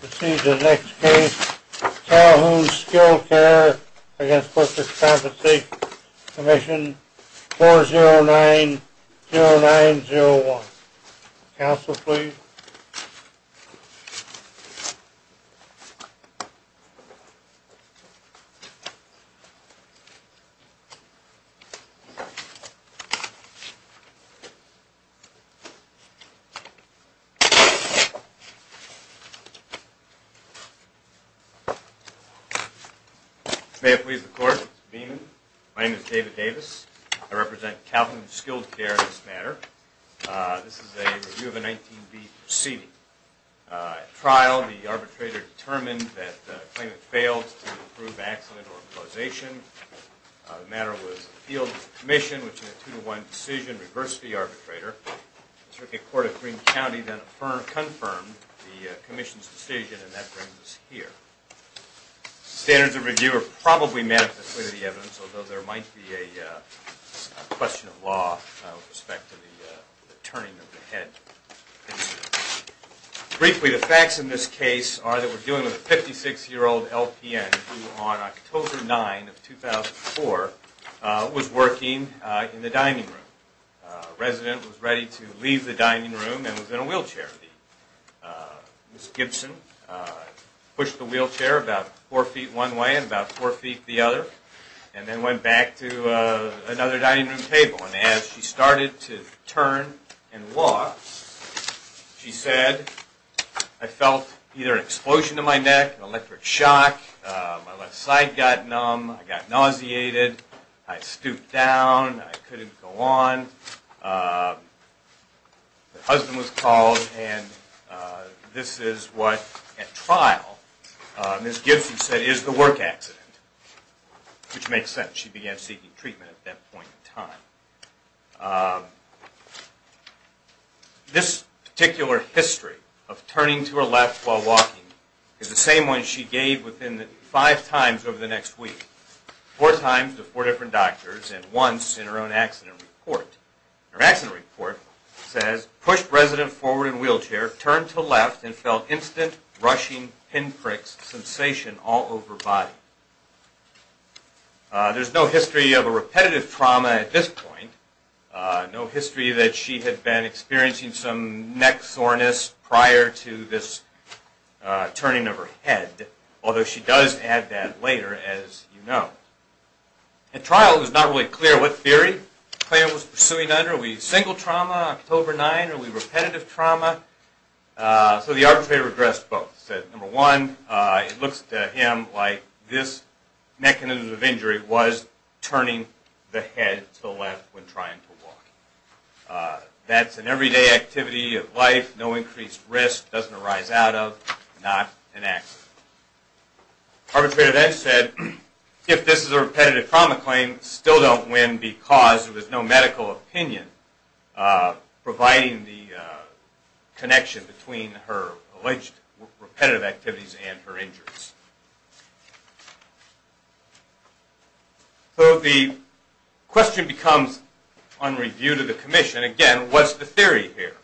Proceed to the next case, Calhoun Skilled Care v. The Workers' Compensation Commission, 4090901. Counsel, please. May it please the Court, Mr. Beaman. My name is David Davis. I represent Calhoun Skilled Care in this matter. This is a review of a 19B proceeding. At trial, the arbitrator determined that the claimant failed to prove accident or causation. The matter was appealed to the commission, which in a two-to-one decision reversed the arbitrator. The Circuit Court of Green County then confirmed the commission's decision, and that brings us here. Standards of review are probably manifestly to the evidence, although there might be a question of law with respect to the turning of the head. Briefly, the facts in this case are that we're dealing with a 56-year-old LPN who on October 9, 2004, was working in the dining room. The resident was ready to leave the dining room and was in a wheelchair. Ms. Gibson pushed the wheelchair about four feet one way and about four feet the other, and then went back to another dining room table. And as she started to turn and walk, she said, I felt either an explosion in my neck, an electric shock, my left side got numb, I got nauseated, I stooped down, I couldn't go on. Her husband was called, and this is what, at trial, Ms. Gibson said is the work accident, which makes sense. She began seeking treatment at that point in time. This particular history of turning to her left while walking is the same one she gave five times over the next week, four times to four different doctors, and once in her own accident report. Her accident report says, pushed resident forward in wheelchair, turned to left, and felt instant, rushing, pinpricks, sensation all over body. There's no history of a repetitive trauma at this point, no history that she had been experiencing some neck soreness prior to this turning of her head, although she does add that later, as you know. At trial, it was not really clear what theory the client was pursuing under. Are we single trauma, October 9, are we repetitive trauma? So the arbitrator addressed both, said, number one, it looks to him like this mechanism of injury was turning the head to the left when increased risk doesn't arise out of, not an accident. Arbitrator then said, if this is a repetitive trauma claim, still don't win because there was no medical opinion providing the connection between her alleged repetitive activities and her injuries. So the question becomes, on review to the commission, again, what's the theory here?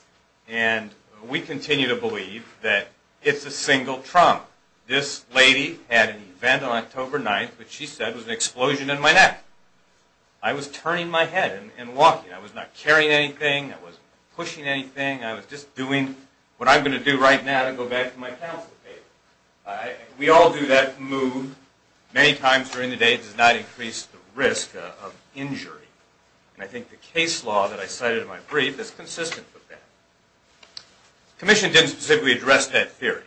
And we continue to believe that it's a single trauma. This lady had an event on October 9th, which she said was an explosion in my neck. I was turning my head and walking. I was not carrying anything. I wasn't pushing anything. I was just doing what I'm going to do right now to go back to my counsel table. We all do that move many times during the day. It does not increase the risk of injury. And I think the case law that I cited in my brief is consistent with that. The commission didn't specifically address that theory.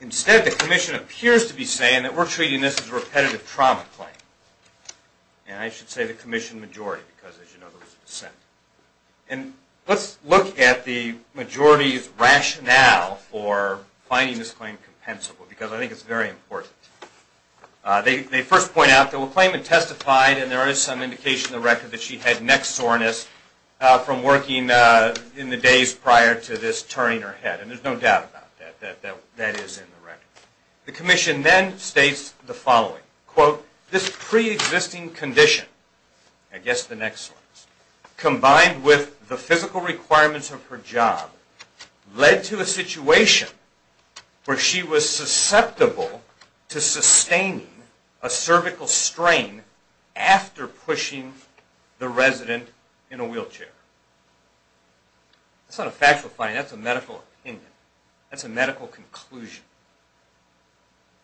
Instead, the commission appears to be saying that we're treating this as a repetitive trauma claim. And I should say the commission majority because, as you know, there was a dissent. And let's look at the majority's rationale for finding this claim compensable because I think it's very important. They first point out that the claimant testified, and there is some indication in the record that she had neck soreness from working in the days prior to this turning her head. And there's no doubt about that. That is in the record. The commission then states the following, quote, this pre-existing condition, I guess the neck soreness, combined with the physical requirements of her job led to a situation where she was susceptible to sustaining a cervical strain after pushing the resident in a wheelchair. That's not a factual finding. That's a medical opinion. That's a medical conclusion.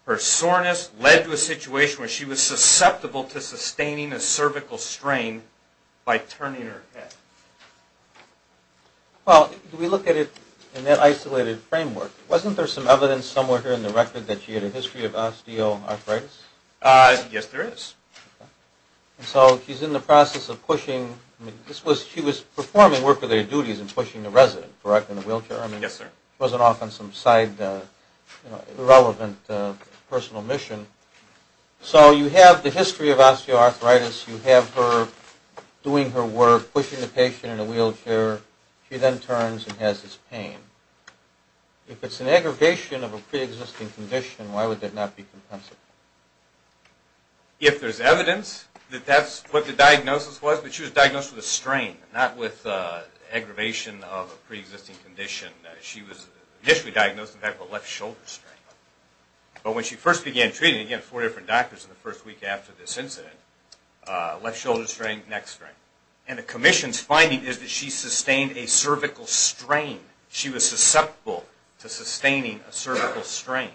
Her soreness led to a situation where she was susceptible to sustaining a cervical strain by turning her head. Well, if we look at it in that isolated framework, wasn't there some evidence somewhere here in the record that she had a history of osteoarthritis? Yes, there is. And so she's in the process of pushing, I mean, she was performing work of their duties and pushing the resident, correct, in a wheelchair? Yes, sir. She wasn't off on some side, you know, irrelevant personal mission. So you have the history of osteoarthritis. You have her doing her work, pushing the patient in a wheelchair. She then turns and has this pain. If it's an aggravation of a pre-existing condition, why would that not be compensable? If there's evidence that that's what the diagnosis was, but she was diagnosed with a strain, not with aggravation of a pre-existing condition. She was initially diagnosed with a left shoulder strain. But when she first began treating, again, four different doctors in the first week after this incident, left shoulder strain, neck strain. And the commission's finding is that she sustained a cervical strain. She was susceptible to sustaining a cervical strain.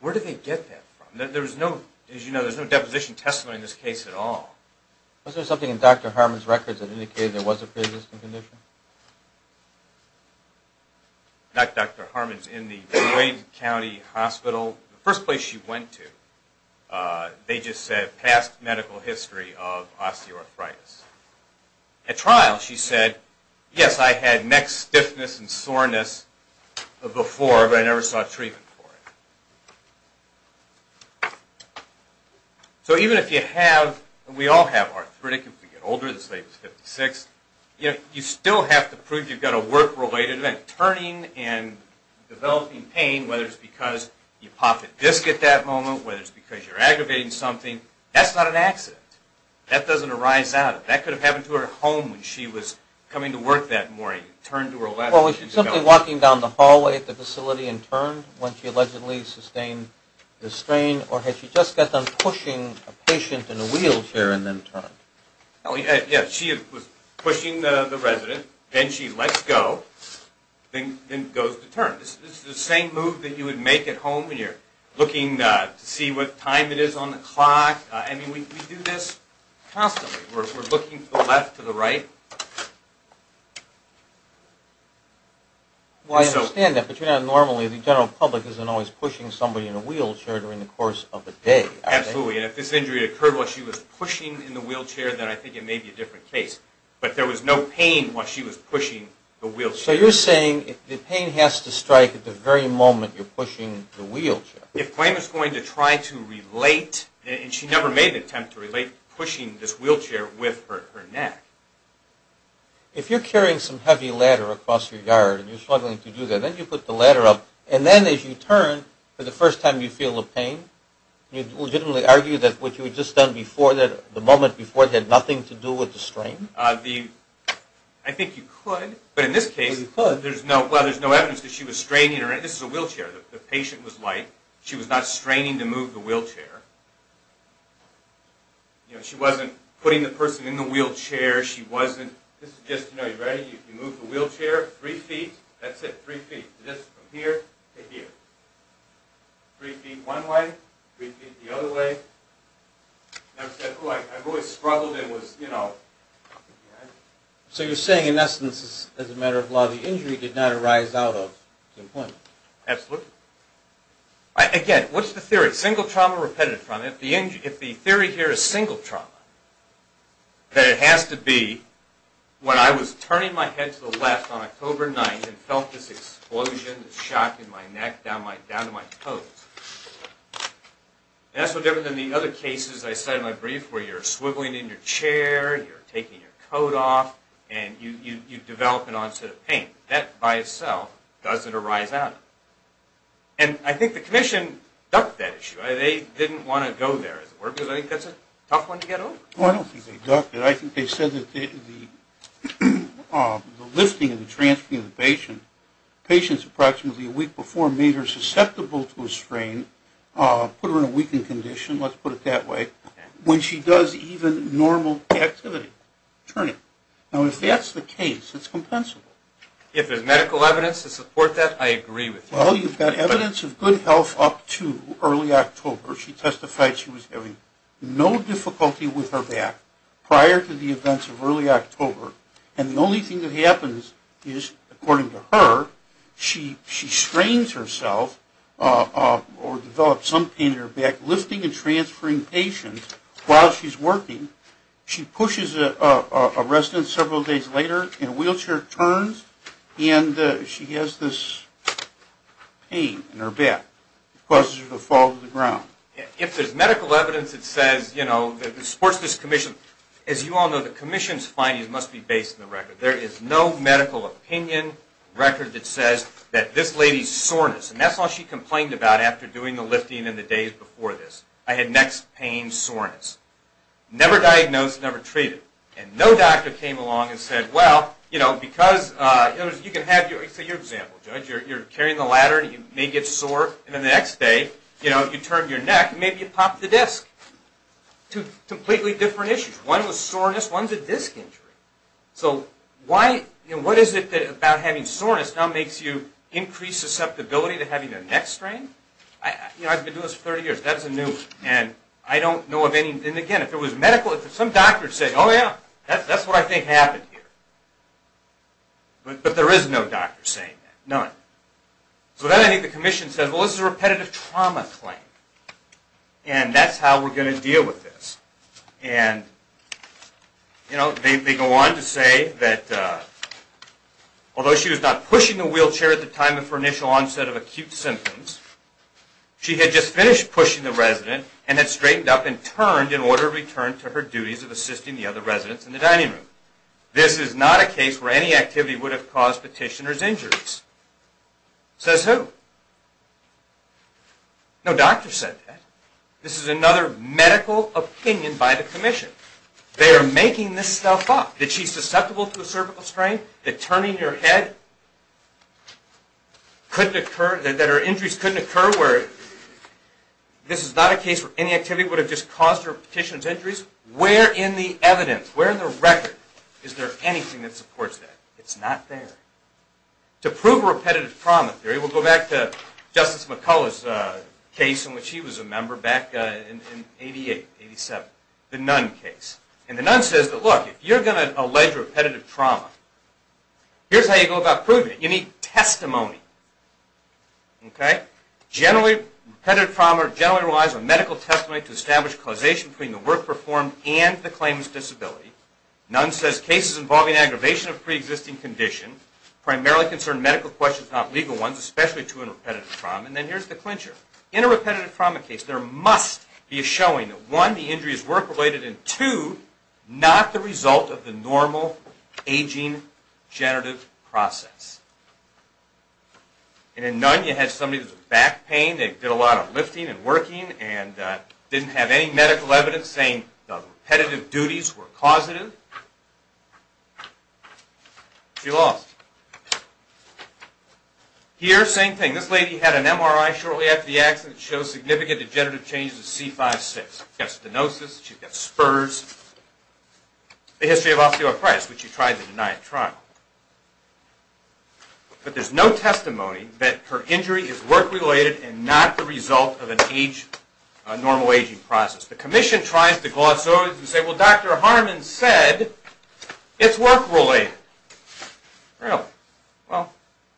Where did they get that from? There was no, as you know, there's no deposition testimony in this case at all. Was there something in Dr. Harmon's records that indicated there was a pre-existing condition? Not Dr. Harmon's. In the Wayne County Hospital, the first place she went to, they just said past medical history of osteoarthritis. At trial, she said, yes, I had neck stiffness and soreness before, but I never saw treatment for it. So even if you have, and we all have arthritic, if we get older, this lady's 56, you still have to prove you've got a work-related event. Turning and developing pain, whether it's because you popped a disc at that moment, whether it's because you're aggravating something, that's not an accident. That doesn't arise out of it. That could have happened to her at home when she was coming to work that morning and turned to her left. Well, was she simply walking down the hallway at the facility and turned when she allegedly sustained the strain, or had she just gotten done pushing a patient in a wheelchair and then turned? Yes, she was pushing the resident, then she lets go, then goes to turn. It's the same move that you would make at home when you're looking to see what time it is on the clock. I mean, we do this constantly. We're looking to the left, to the right. Well, I understand that, but you know, normally the general public isn't always pushing somebody in a wheelchair during the course of a day. Absolutely, and if this injury occurred while she was pushing in the wheelchair, then I think it may be a different case. But there was no pain while she was pushing the wheelchair. So you're saying the pain has to strike at the very moment you're pushing the wheelchair. If Claim is going to try to relate, and she never made an attempt to relate, pushing this wheelchair with her neck. If you're carrying some heavy ladder across your yard and you're struggling to do that, then you put the ladder up, and then as you turn, for the first time you feel the pain, you'd legitimately argue that what you had just done before, the moment before, had nothing to do with the strain? I think you could, but in this case there's no evidence that she was straining her neck. Again, this is a wheelchair. The patient was light. She was not straining to move the wheelchair. She wasn't putting the person in the wheelchair. This is just, you know, you move the wheelchair three feet, that's it, three feet, just from here to here. Three feet one way, three feet the other way. And I've said, oh, I've always struggled and was, you know. So you're saying, in essence, as a matter of law, the injury did not arise out of the employment? Absolutely. Again, what's the theory? Single trauma or repetitive trauma? If the theory here is single trauma, then it has to be when I was turning my head to the left on October 9th and felt this explosion, this shock in my neck, down to my toes. And that's no different than the other cases I cited in my brief, where you're swiveling in your chair, you're taking your coat off, and you develop an onset of pain. That by itself doesn't arise out of it. And I think the commission ducked that issue. They didn't want to go there, as it were, because I think that's a tough one to get over. Well, I don't think they ducked it. I think they said that the lifting and the transferring of the patient, patients approximately a week before made her susceptible to a strain, put her in a weakened condition, let's put it that way. When she does even normal activity, turning. Now, if that's the case, it's compensable. If there's medical evidence to support that, I agree with you. Well, you've got evidence of good health up to early October. She testified she was having no difficulty with her back prior to the events of early October. And the only thing that happens is, according to her, she strains herself or develops some pain in her back. Lifting and transferring patients while she's working, she pushes a resident several days later in a wheelchair, turns, and she has this pain in her back. It causes her to fall to the ground. If there's medical evidence that supports this commission, as you all know, the commission's findings must be based on the record. There is no medical opinion record that says that this lady's soreness, and that's all she complained about after doing the lifting and the days before this. I had neck pain, soreness. Never diagnosed, never treated. And no doctor came along and said, well, you know, because you can have your, say your example, judge, you're carrying the ladder and you may get sore, and then the next day, you know, you turn your neck and maybe you pop the disc. Two completely different issues. One was soreness, one's a disc injury. So why, you know, what is it about having soreness now makes you increase susceptibility to having a neck strain? You know, I've been doing this for 30 years. That's a new, and I don't know of any, and again, if it was medical, if some doctor would say, oh, yeah, that's what I think happened here. But there is no doctor saying that, none. So then I think the commission says, well, this is a repetitive trauma claim, and that's how we're going to deal with this. And, you know, they go on to say that although she was not pushing the wheelchair at the time of her initial onset of acute symptoms, she had just finished pushing the resident and had straightened up and turned in order to return to her duties of assisting the other residents in the dining room. This is not a case where any activity would have caused petitioner's injuries. Says who? No doctor said that. This is another medical opinion by the commission. They are making this stuff up, that she's susceptible to a cervical strain, that turning her head couldn't occur, that her injuries couldn't occur, where this is not a case where any activity would have just caused her petitioner's injuries. Where in the evidence, where in the record is there anything that supports that? It's not there. To prove repetitive trauma theory, we'll go back to Justice McCullough's case in which he was a member back in 88, 87, the Nunn case. And the Nunn says that, look, if you're going to allege repetitive trauma, here's how you go about proving it. You need testimony. Okay? Generally, repetitive trauma generally relies on medical testimony to establish causation between the work performed and the claimant's disability. Nunn says cases involving aggravation of preexisting condition, primarily concern medical questions, not legal ones, especially to a repetitive trauma. And then here's the clincher. In a repetitive trauma case, there must be a showing that, one, the injuries were related, and two, not the result of the normal aging generative process. And in Nunn, you had somebody with back pain. They did a lot of lifting and working and didn't have any medical evidence saying the repetitive duties were causative. She lost. Here, same thing. This lady had an MRI shortly after the accident that shows significant degenerative changes in C5-6. She's got stenosis. She's got spurs. The history of osteoporosis, which she tried to deny at trial. But there's no testimony that her injury is work-related and not the result of a normal aging process. The commission tries to gloss over this and say, Well, Dr. Harmon said it's work-related. Well,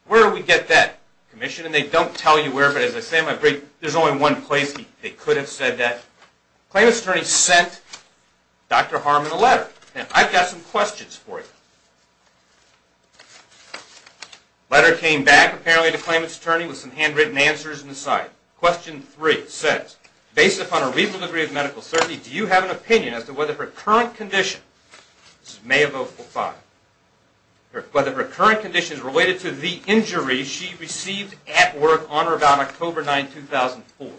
where do we get that commission? And they don't tell you where, but as I say in my brief, there's only one place they could have said that. The claimant's attorney sent Dr. Harmon a letter. And I've got some questions for you. The letter came back, apparently, to the claimant's attorney with some handwritten answers in the side. Question three says, Based upon a reasonable degree of medical certainty, do you have an opinion as to whether her current condition This is May of 2005. Whether her current condition is related to the injury she received at work on or about October 9, 2004.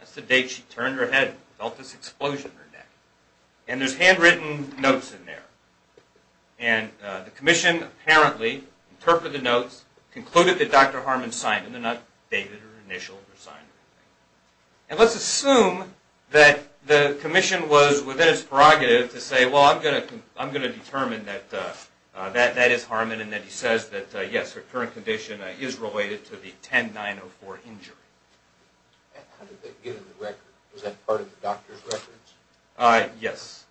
That's the date she turned her head and felt this explosion in her neck. And there's handwritten notes in there. And the commission, apparently, interpreted the notes, concluded that Dr. Harmon signed them. They're not dated or initialed or signed or anything. And let's assume that the commission was within its prerogative to say, well, I'm going to determine that that is Harmon and that he says that, yes, her current condition is related to the 10-904 injury. How did they get the record? Was that part of the doctor's records? Yes.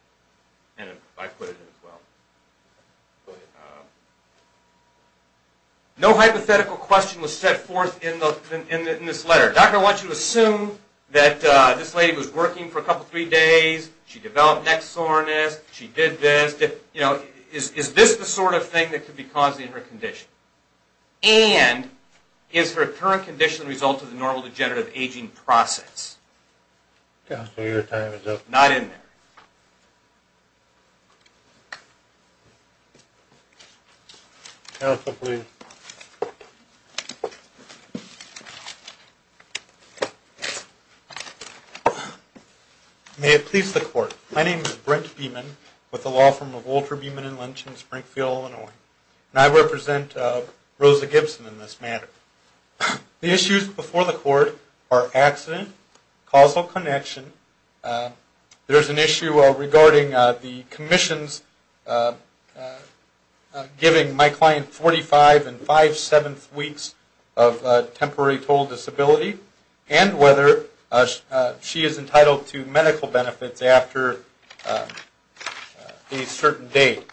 And I put it in as well. Go ahead. No hypothetical question was set forth in this letter. Doctor, I want you to assume that this lady was working for a couple, three days. She developed neck soreness. She did this. Is this the sort of thing that could be causing her condition? And is her current condition the result of the normal degenerative aging process? Counsel, your time is up. Not in there. Counsel, please. May it please the court. My name is Brent Beeman with the law firm of Walter Beeman & Lynch in Springfield, Illinois. And I represent Rosa Gibson in this matter. The issues before the court are accident, causal connection, there's an issue with the patient's condition, there's an issue regarding the commissions giving my client 45 and five-seventh weeks of temporary total disability, and whether she is entitled to medical benefits after a certain date.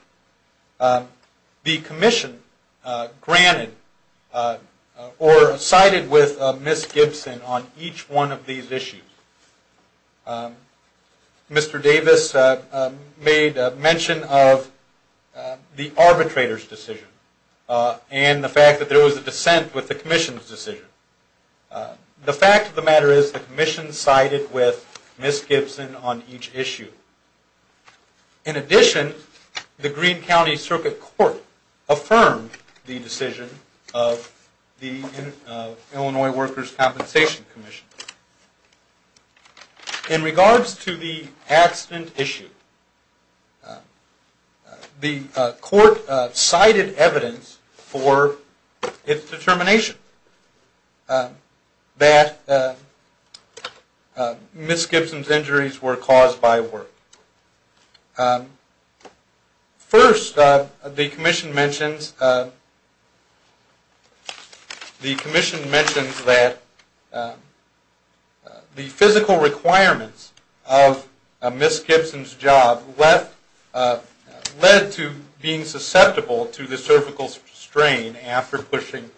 The commission granted or sided with Ms. Gibson on each one of these issues. Mr. Davis made mention of the arbitrator's decision and the fact that there was a dissent with the commission's decision. The fact of the matter is the commission sided with Ms. Gibson on each issue. In addition, the Green County Circuit Court affirmed the decision of the Illinois Workers' Compensation Commission. In regards to the accident issue, the court sided evidence for its determination that Ms. Gibson's injuries were caused by work. First, the commission mentions that the physical requirements of Ms. Gibson's job led to being susceptible to the cervical strain after pushing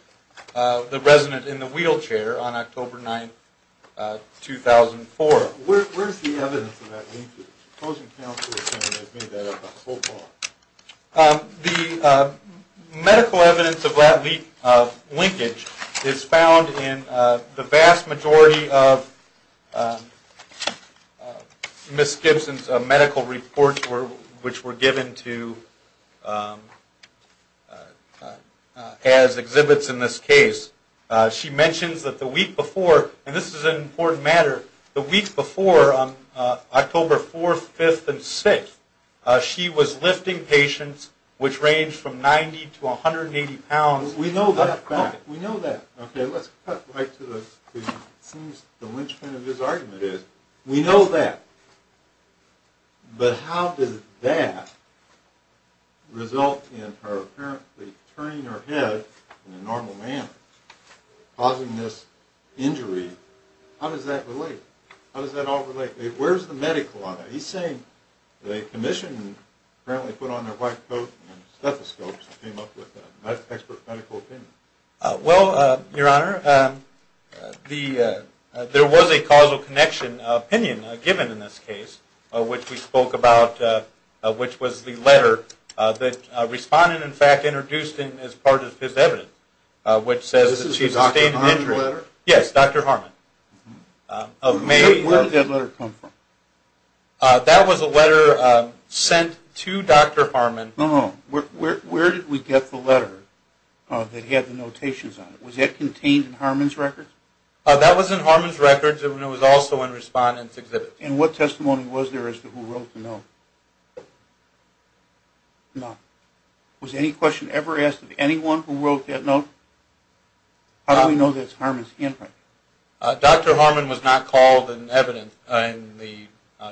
the resident in the wheelchair on October 9, 2004. Where is the evidence of that linkage? The medical evidence of that linkage is found in the vast majority of Ms. Gibson's medical reports which were given as exhibits in this case. She mentions that the week before, and this is an important matter, the week before, October 4th, 5th, and 6th, she was lifting patients which ranged from 90 to 180 pounds. We know that. We know that. Okay, let's cut right to the, it seems the linchpin of his argument is, we know that, but how does that result in her apparently turning her head in a normal manner, causing this injury? How does that relate? How does that all relate? Where's the medical on that? He's saying the commission apparently put on their white coat and stethoscopes and came up with that expert medical opinion. Well, Your Honor, there was a causal connection opinion given in this case which we spoke about, which was the letter that a respondent, in fact, introduced as part of his evidence, which says that she sustained an injury. This is the Dr. Harmon letter? Yes, Dr. Harmon. Where did that letter come from? That was a letter sent to Dr. Harmon. No, no, where did we get the letter that had the notations on it? Was that contained in Harmon's records? That was in Harmon's records, and it was also in respondent's exhibit. And what testimony was there as to who wrote the note? None. Was any question ever asked of anyone who wrote that note? How do we know that's Harmon's handprint? Dr. Harmon was not called in the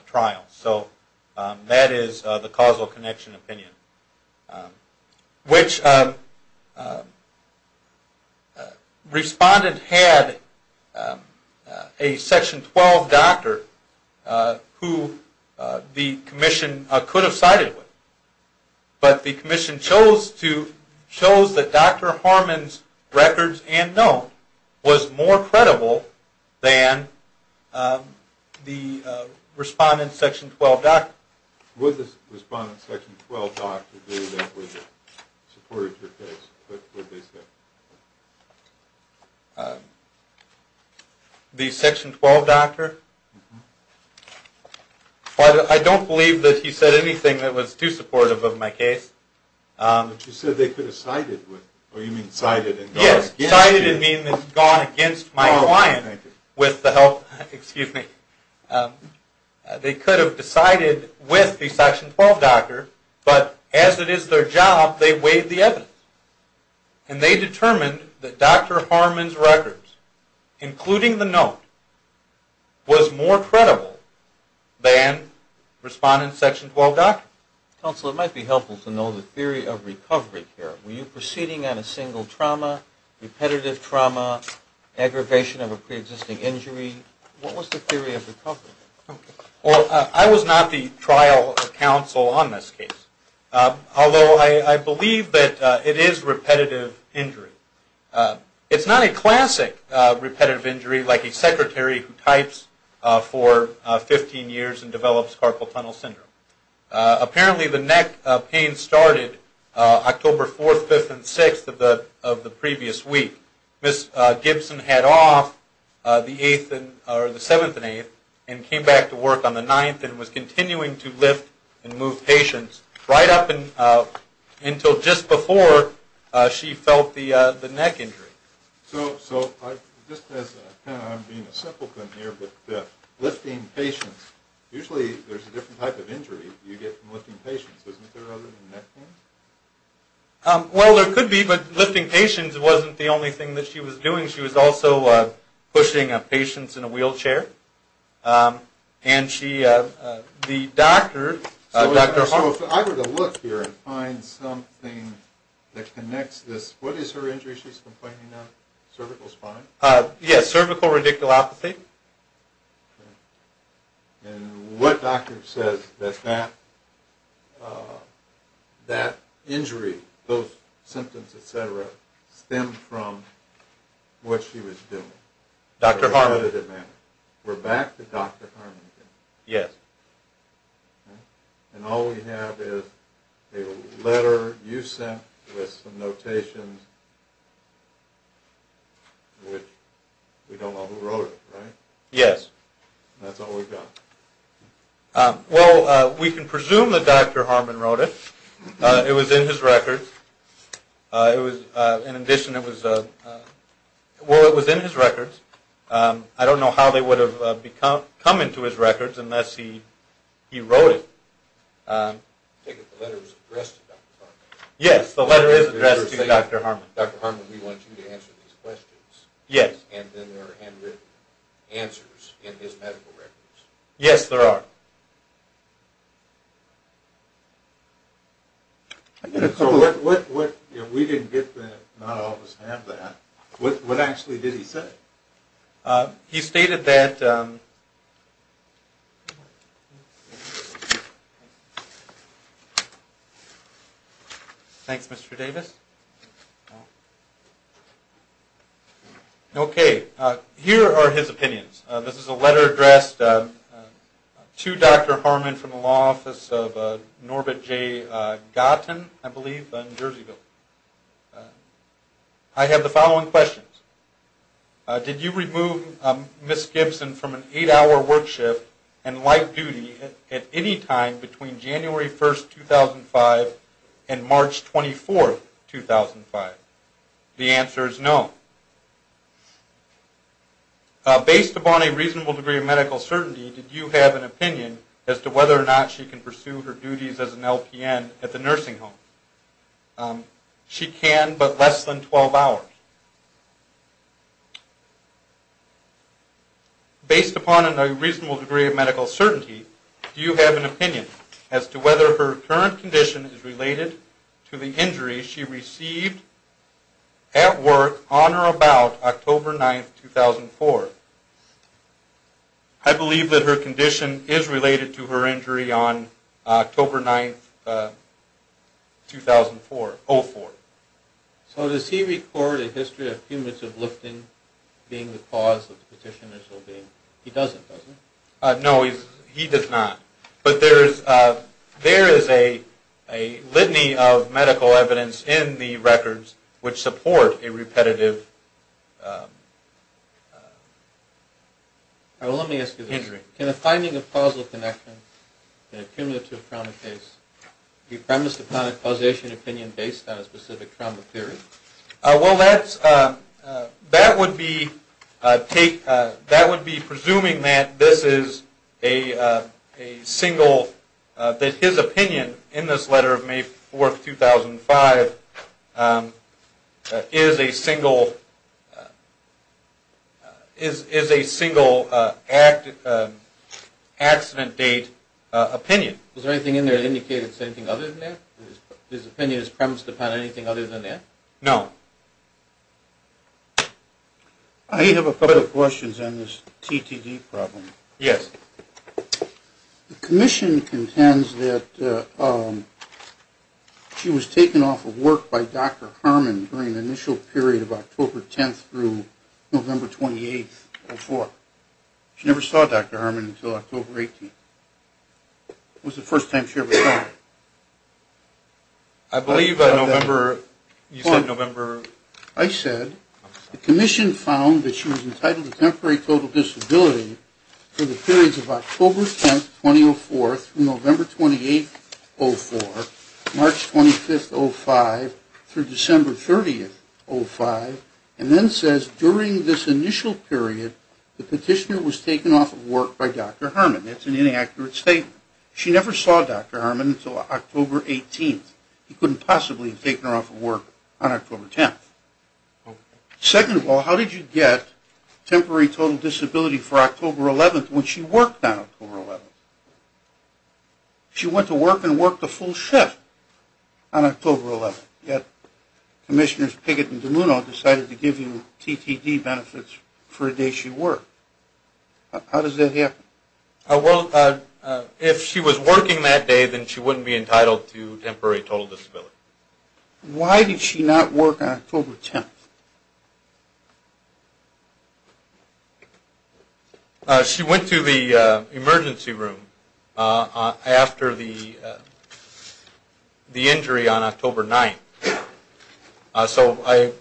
trial, so that is the causal connection opinion, which respondent had a Section 12 doctor who the commission could have sided with, but the commission chose that Dr. Harmon's records and note was more credible than the respondent's Section 12 doctor. Would the respondent's Section 12 doctor agree that was supported your case? What did they say? The Section 12 doctor? I don't believe that he said anything that was too supportive of my case. But you said they could have sided with, or you mean sided and gone against you. Yes, sided and gone against my client with the help, excuse me. They could have decided with the Section 12 doctor, but as it is their job, they weighed the evidence. And they determined that Dr. Harmon's records, including the note, was more credible than respondent's Section 12 doctor. Counsel, it might be helpful to know the theory of recovery here. Were you proceeding on a single trauma, repetitive trauma, aggravation of a preexisting injury? What was the theory of recovery? Well, I was not the trial counsel on this case, although I believe that it is repetitive injury. It's not a classic repetitive injury like a secretary who types for 15 years and develops carpal tunnel syndrome. Apparently the neck pain started October 4th, 5th, and 6th of the previous week. Ms. Gibson had off the 7th and 8th and came back to work on the 9th and was continuing to lift and move patients right up until just before she felt the neck injury. So just as I'm being a simpleton here, but lifting patients, usually there's a different type of injury you get from lifting patients, isn't there other than neck pain? Well, there could be, but lifting patients wasn't the only thing that she was doing. She was also pushing patients in a wheelchair. So if I were to look here and find something that connects this, what is her injury she's complaining of, cervical spine? Yes, cervical radiculopathy. And what doctor says that that injury, those symptoms, etc., stemmed from what she was doing? Dr. Harmon. We're back to Dr. Harmon again. Yes. And all we have is a letter you sent with some notations, which we don't know who wrote it, right? Yes. That's all we've got. Well, we can presume that Dr. Harmon wrote it. It was in his records. In addition, it was in his records. I don't know how they would have come into his records unless he wrote it. I take it the letter was addressed to Dr. Harmon. Yes, the letter is addressed to Dr. Harmon. Dr. Harmon, we want you to answer these questions. Yes. And then there are handwritten answers in his medical records. Yes, there are. So if we didn't get that, not all of us have that, what actually did he say? He stated that ‑‑thanks, Mr. Davis. Okay, here are his opinions. This is a letter addressed to Dr. Harmon from the law office of Norbit J. Gotten, I believe, in Jerseyville. I have the following questions. Did you remove Ms. Gibson from an eight‑hour work shift and light duty at any time between January 1, 2005 and March 24, 2005? The answer is no. Based upon a reasonable degree of medical certainty, did you have an opinion as to whether or not she can pursue her duties as an LPN at the nursing home? She can, but less than 12 hours. Based upon a reasonable degree of medical certainty, do you have an opinion as to whether her current condition is related to the October 9, 2004? I believe that her condition is related to her injury on October 9, 2004. So does he record a history of cumulative lifting being the cause of the petitioner's obeying? He doesn't, does he? No, he does not. But there is a litany of medical evidence in the records which support a repetitive injury. Let me ask you this. Can a finding of causal connection in a cumulative trauma case be premised upon a causation opinion based on a specific trauma theory? Well, that would be presuming that this is a single, that his opinion in this letter of May 4, 2005 is a single accident date opinion. Is there anything in there that indicates anything other than that? His opinion is premised upon anything other than that? No. I have a couple of questions on this TTD problem. Yes. The commission contends that she was taken off of work by Dr. Harmon during the initial period of October 10 through November 28, 2004. She never saw Dr. Harmon until October 18. When was the first time she ever saw him? I believe November, you said November. I said the commission found that she was entitled to temporary total disability for the periods of October 10, 2004 through November 28, 2004, March 25, 2005 through December 30, 2005, and then says during this initial period the petitioner was taken off of work by Dr. Harmon. That's an inaccurate statement. She never saw Dr. Harmon until October 18. He couldn't possibly have taken her off of work on October 10. Second of all, how did you get temporary total disability for October 11 when she worked on October 11? She went to work and worked a full shift on October 11, yet Commissioners Pickett and DeLuno decided to give you TTD benefits for a day she worked. How does that happen? Well, if she was working that day, then she wouldn't be entitled to temporary total disability. Why did she not work on October 10? She went to the emergency room after the injury on October 9. So I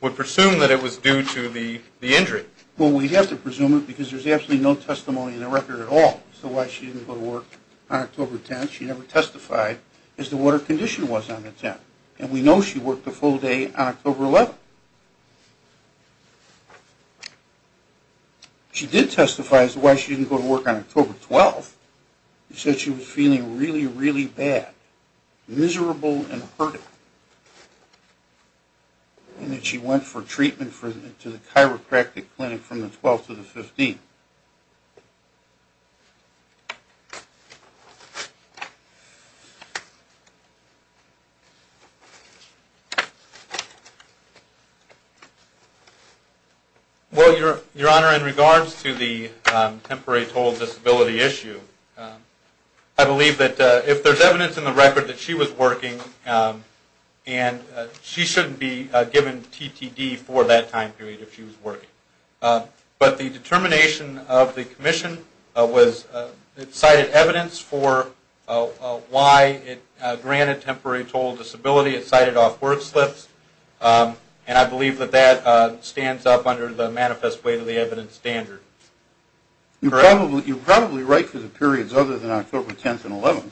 would presume that it was due to the injury. Well, we'd have to presume it because there's absolutely no testimony in the record at all as to why she didn't go to work on October 10. She never testified as to what her condition was on the 10th. And we know she worked a full day on October 11. She did testify as to why she didn't go to work on October 12. She said she was feeling really, really bad, miserable and hurting, and that she went for treatment to the chiropractic clinic from the 12th to the 15th. Well, Your Honor, in regards to the temporary total disability issue, I believe that if there's evidence in the record that she was working, she shouldn't be given TTD for that time period if she was working. But the determination of the Commission cited evidence for why it granted temporary total disability. It cited off-work slips. And I believe that that stands up under the manifest way to the evidence standard. You're probably right for the periods other than October 10th and 11th.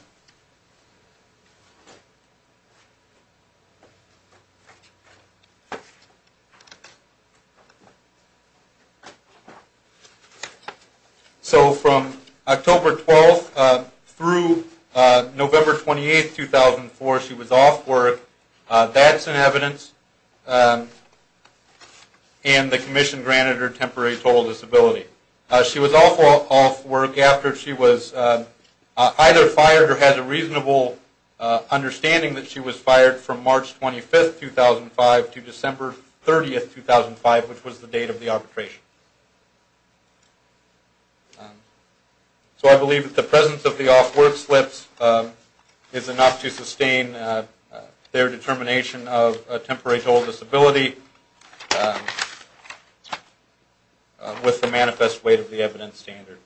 So from October 12th through November 28th, 2004, she was off work. That's an evidence. And the Commission granted her temporary total disability. She was also off work after she was either fired or had a reasonable understanding that she was fired from March 25, 2005 to December 30, 2005, which was the date of the arbitration. So I believe that the presence of the off-work slips is enough to sustain their determination of temporary total disability with the manifest way to the evidence standard.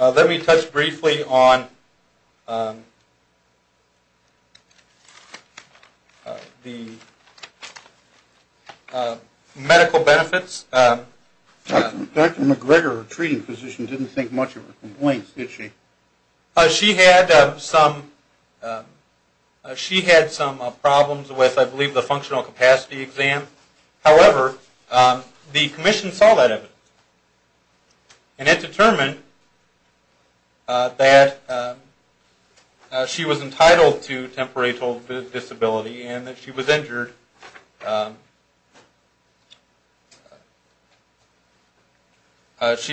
Let me touch briefly on the medical benefits. Dr. McGregor, a treating physician, didn't think much of her complaints, did she? She had some problems with, I believe, the functional capacity exam. However, the Commission saw that evidence. And it determined that she was entitled to temporary total disability and that she was injured. They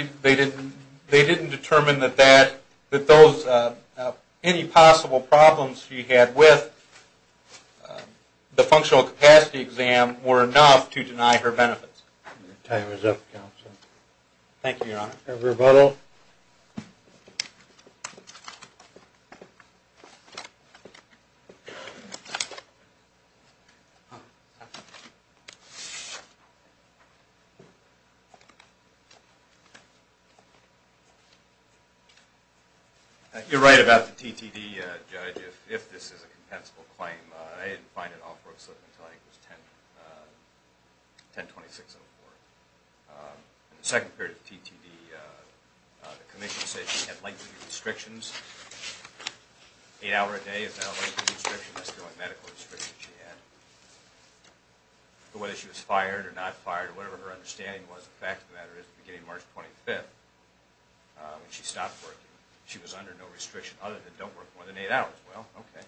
didn't determine that any possible problems she had with the functional capacity exam were enough to deny her benefits. You're right about the TTD, Judge. If this is a compensable claim, I didn't find an off-work slip until I think it was 10-26-04. In the second period of the TTD, the Commission said she had lengthy restrictions. Eight hours a day is not a lengthy restriction. That's the only medical restriction she had. But whether she was fired or not fired or whatever her understanding was, the fact of the matter is that at the beginning of March 25, when she stopped working, she was under no restriction other than don't work more than eight hours. Well, okay.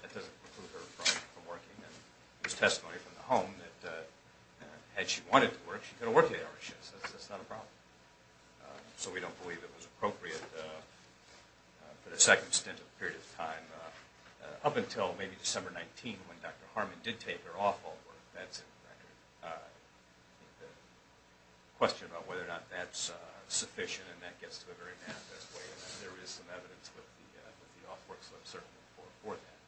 That doesn't preclude her from working. There's testimony from the home that had she wanted to work, she could have worked eight hours. That's not a problem. So we don't believe it was appropriate for the second stint of the period of time up until maybe December 19 when Dr. Harmon did take her off of work. That's a question about whether or not that's sufficient and that gets to a very manifest way. There is some evidence with the off-work slip certainly for that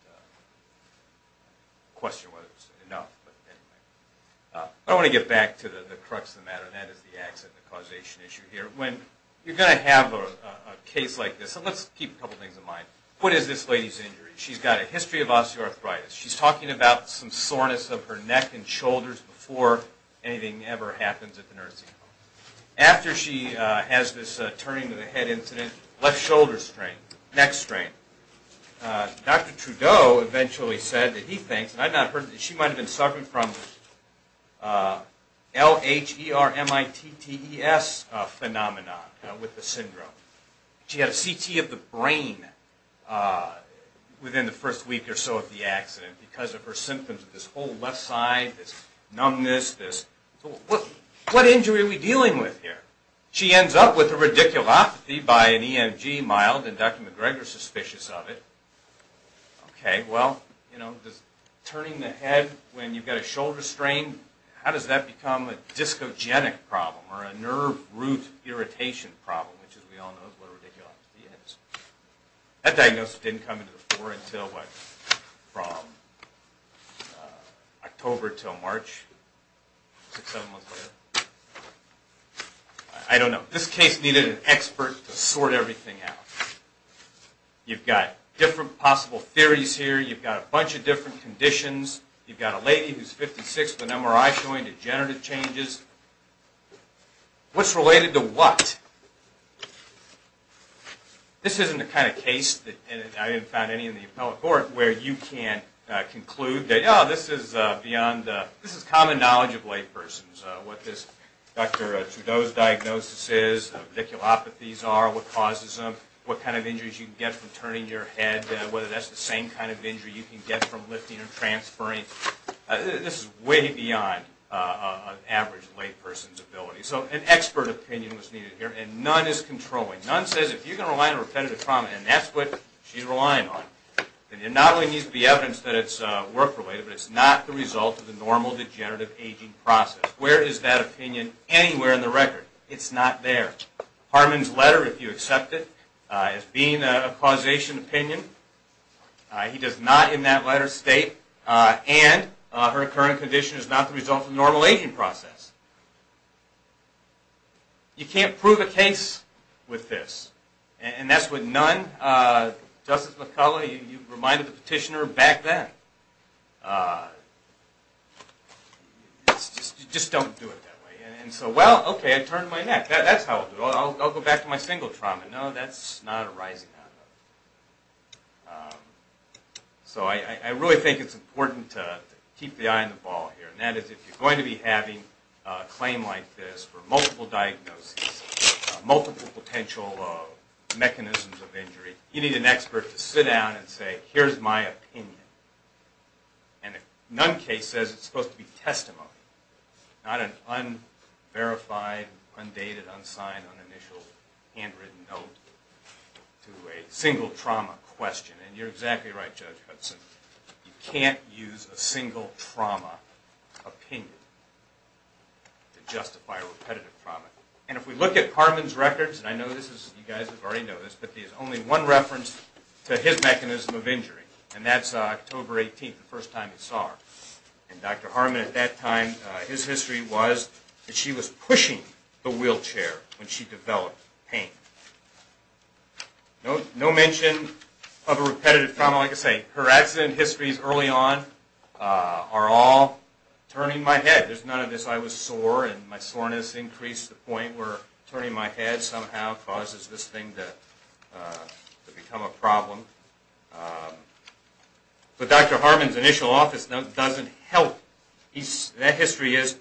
question whether it's enough. I want to get back to the crux of the matter, and that is the accident causation issue here. When you're going to have a case like this, let's keep a couple things in mind. What is this lady's injury? She's got a history of osteoarthritis. She's talking about some soreness of her neck and shoulders before anything ever happens at the nursing home. After she has this turning-of-the-head incident, left shoulder strain, neck strain, Dr. Trudeau eventually said that he thinks, and I've not heard, that she might have been suffering from LHERMITTES phenomenon with the syndrome. She had a CT of the brain within the first week or so of the accident because of her symptoms of this whole left side, this numbness. What injury are we dealing with here? She ends up with a radiculopathy by an EMG, mild, and Dr. McGregor is suspicious of it. Well, turning the head when you've got a shoulder strain, how does that become a discogenic problem or a nerve root irritation problem, which, as we all know, is what a radiculopathy is? That diagnosis didn't come into the fore until, what, from October until March, six, seven months later. I don't know. This case needed an expert to sort everything out. You've got different possible theories here. You've got a bunch of different conditions. You've got a lady who's 56 with an MRI showing degenerative changes. What's related to what? This isn't the kind of case, and I haven't found any in the appellate court, where you can conclude that, yeah, this is common knowledge of laypersons, what this Dr. Trudeau's diagnosis is, what radiculopathies are, what causes them, what kind of injuries you can get from turning your head, whether that's the same kind of injury you can get from lifting or transferring. This is way beyond an average layperson's ability. So an expert opinion was needed here, and none is controlling. None says if you're going to rely on repetitive trauma, and that's what she's relying on, then there not only needs to be evidence that it's work-related, but it's not the result of the normal degenerative aging process. Where is that opinion anywhere in the record? It's not there. Harman's letter, if you accept it, is being a causation opinion. He does not, in that letter, state, and her current condition is not the result of the normal aging process. You can't prove a case with this, and that's with none. Justice McCullough, you reminded the petitioner back then, just don't do it that way. And so, well, okay, I turned my neck, that's how I'll do it. I'll go back to my single trauma. No, that's not arising out of it. So I really think it's important to keep the eye on the ball here, and that is if you're going to be having a claim like this for multiple diagnoses, multiple potential mechanisms of injury, you need an expert to sit down and say, here's my opinion. And a none case says it's supposed to be testimony, not an unverified, undated, unsigned, uninitialed, handwritten note to a single trauma question. And you're exactly right, Judge Hudson. You can't use a single trauma opinion to justify repetitive trauma. And if we look at Harman's records, and I know you guys already know this, but there's only one reference to his mechanism of injury, and that's October 18th, the first time he saw her. And Dr. Harman at that time, his history was that she was pushing the wheelchair when she developed pain. No mention of a repetitive trauma, like I say, her accident histories early on are all turning my head. There's none of this, I was sore, and my soreness increased to the point where turning my head somehow causes this thing to become a problem. But Dr. Harman's initial office note doesn't help. That history is,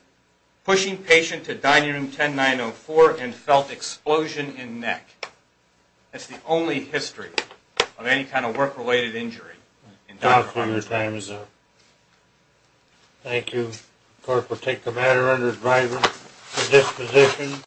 pushing patient to dining room 10904 and felt explosion in neck. That's the only history of any kind of work-related injury. Dr. Harman, thank you. Of course, we'll take the matter under the driver's disposition.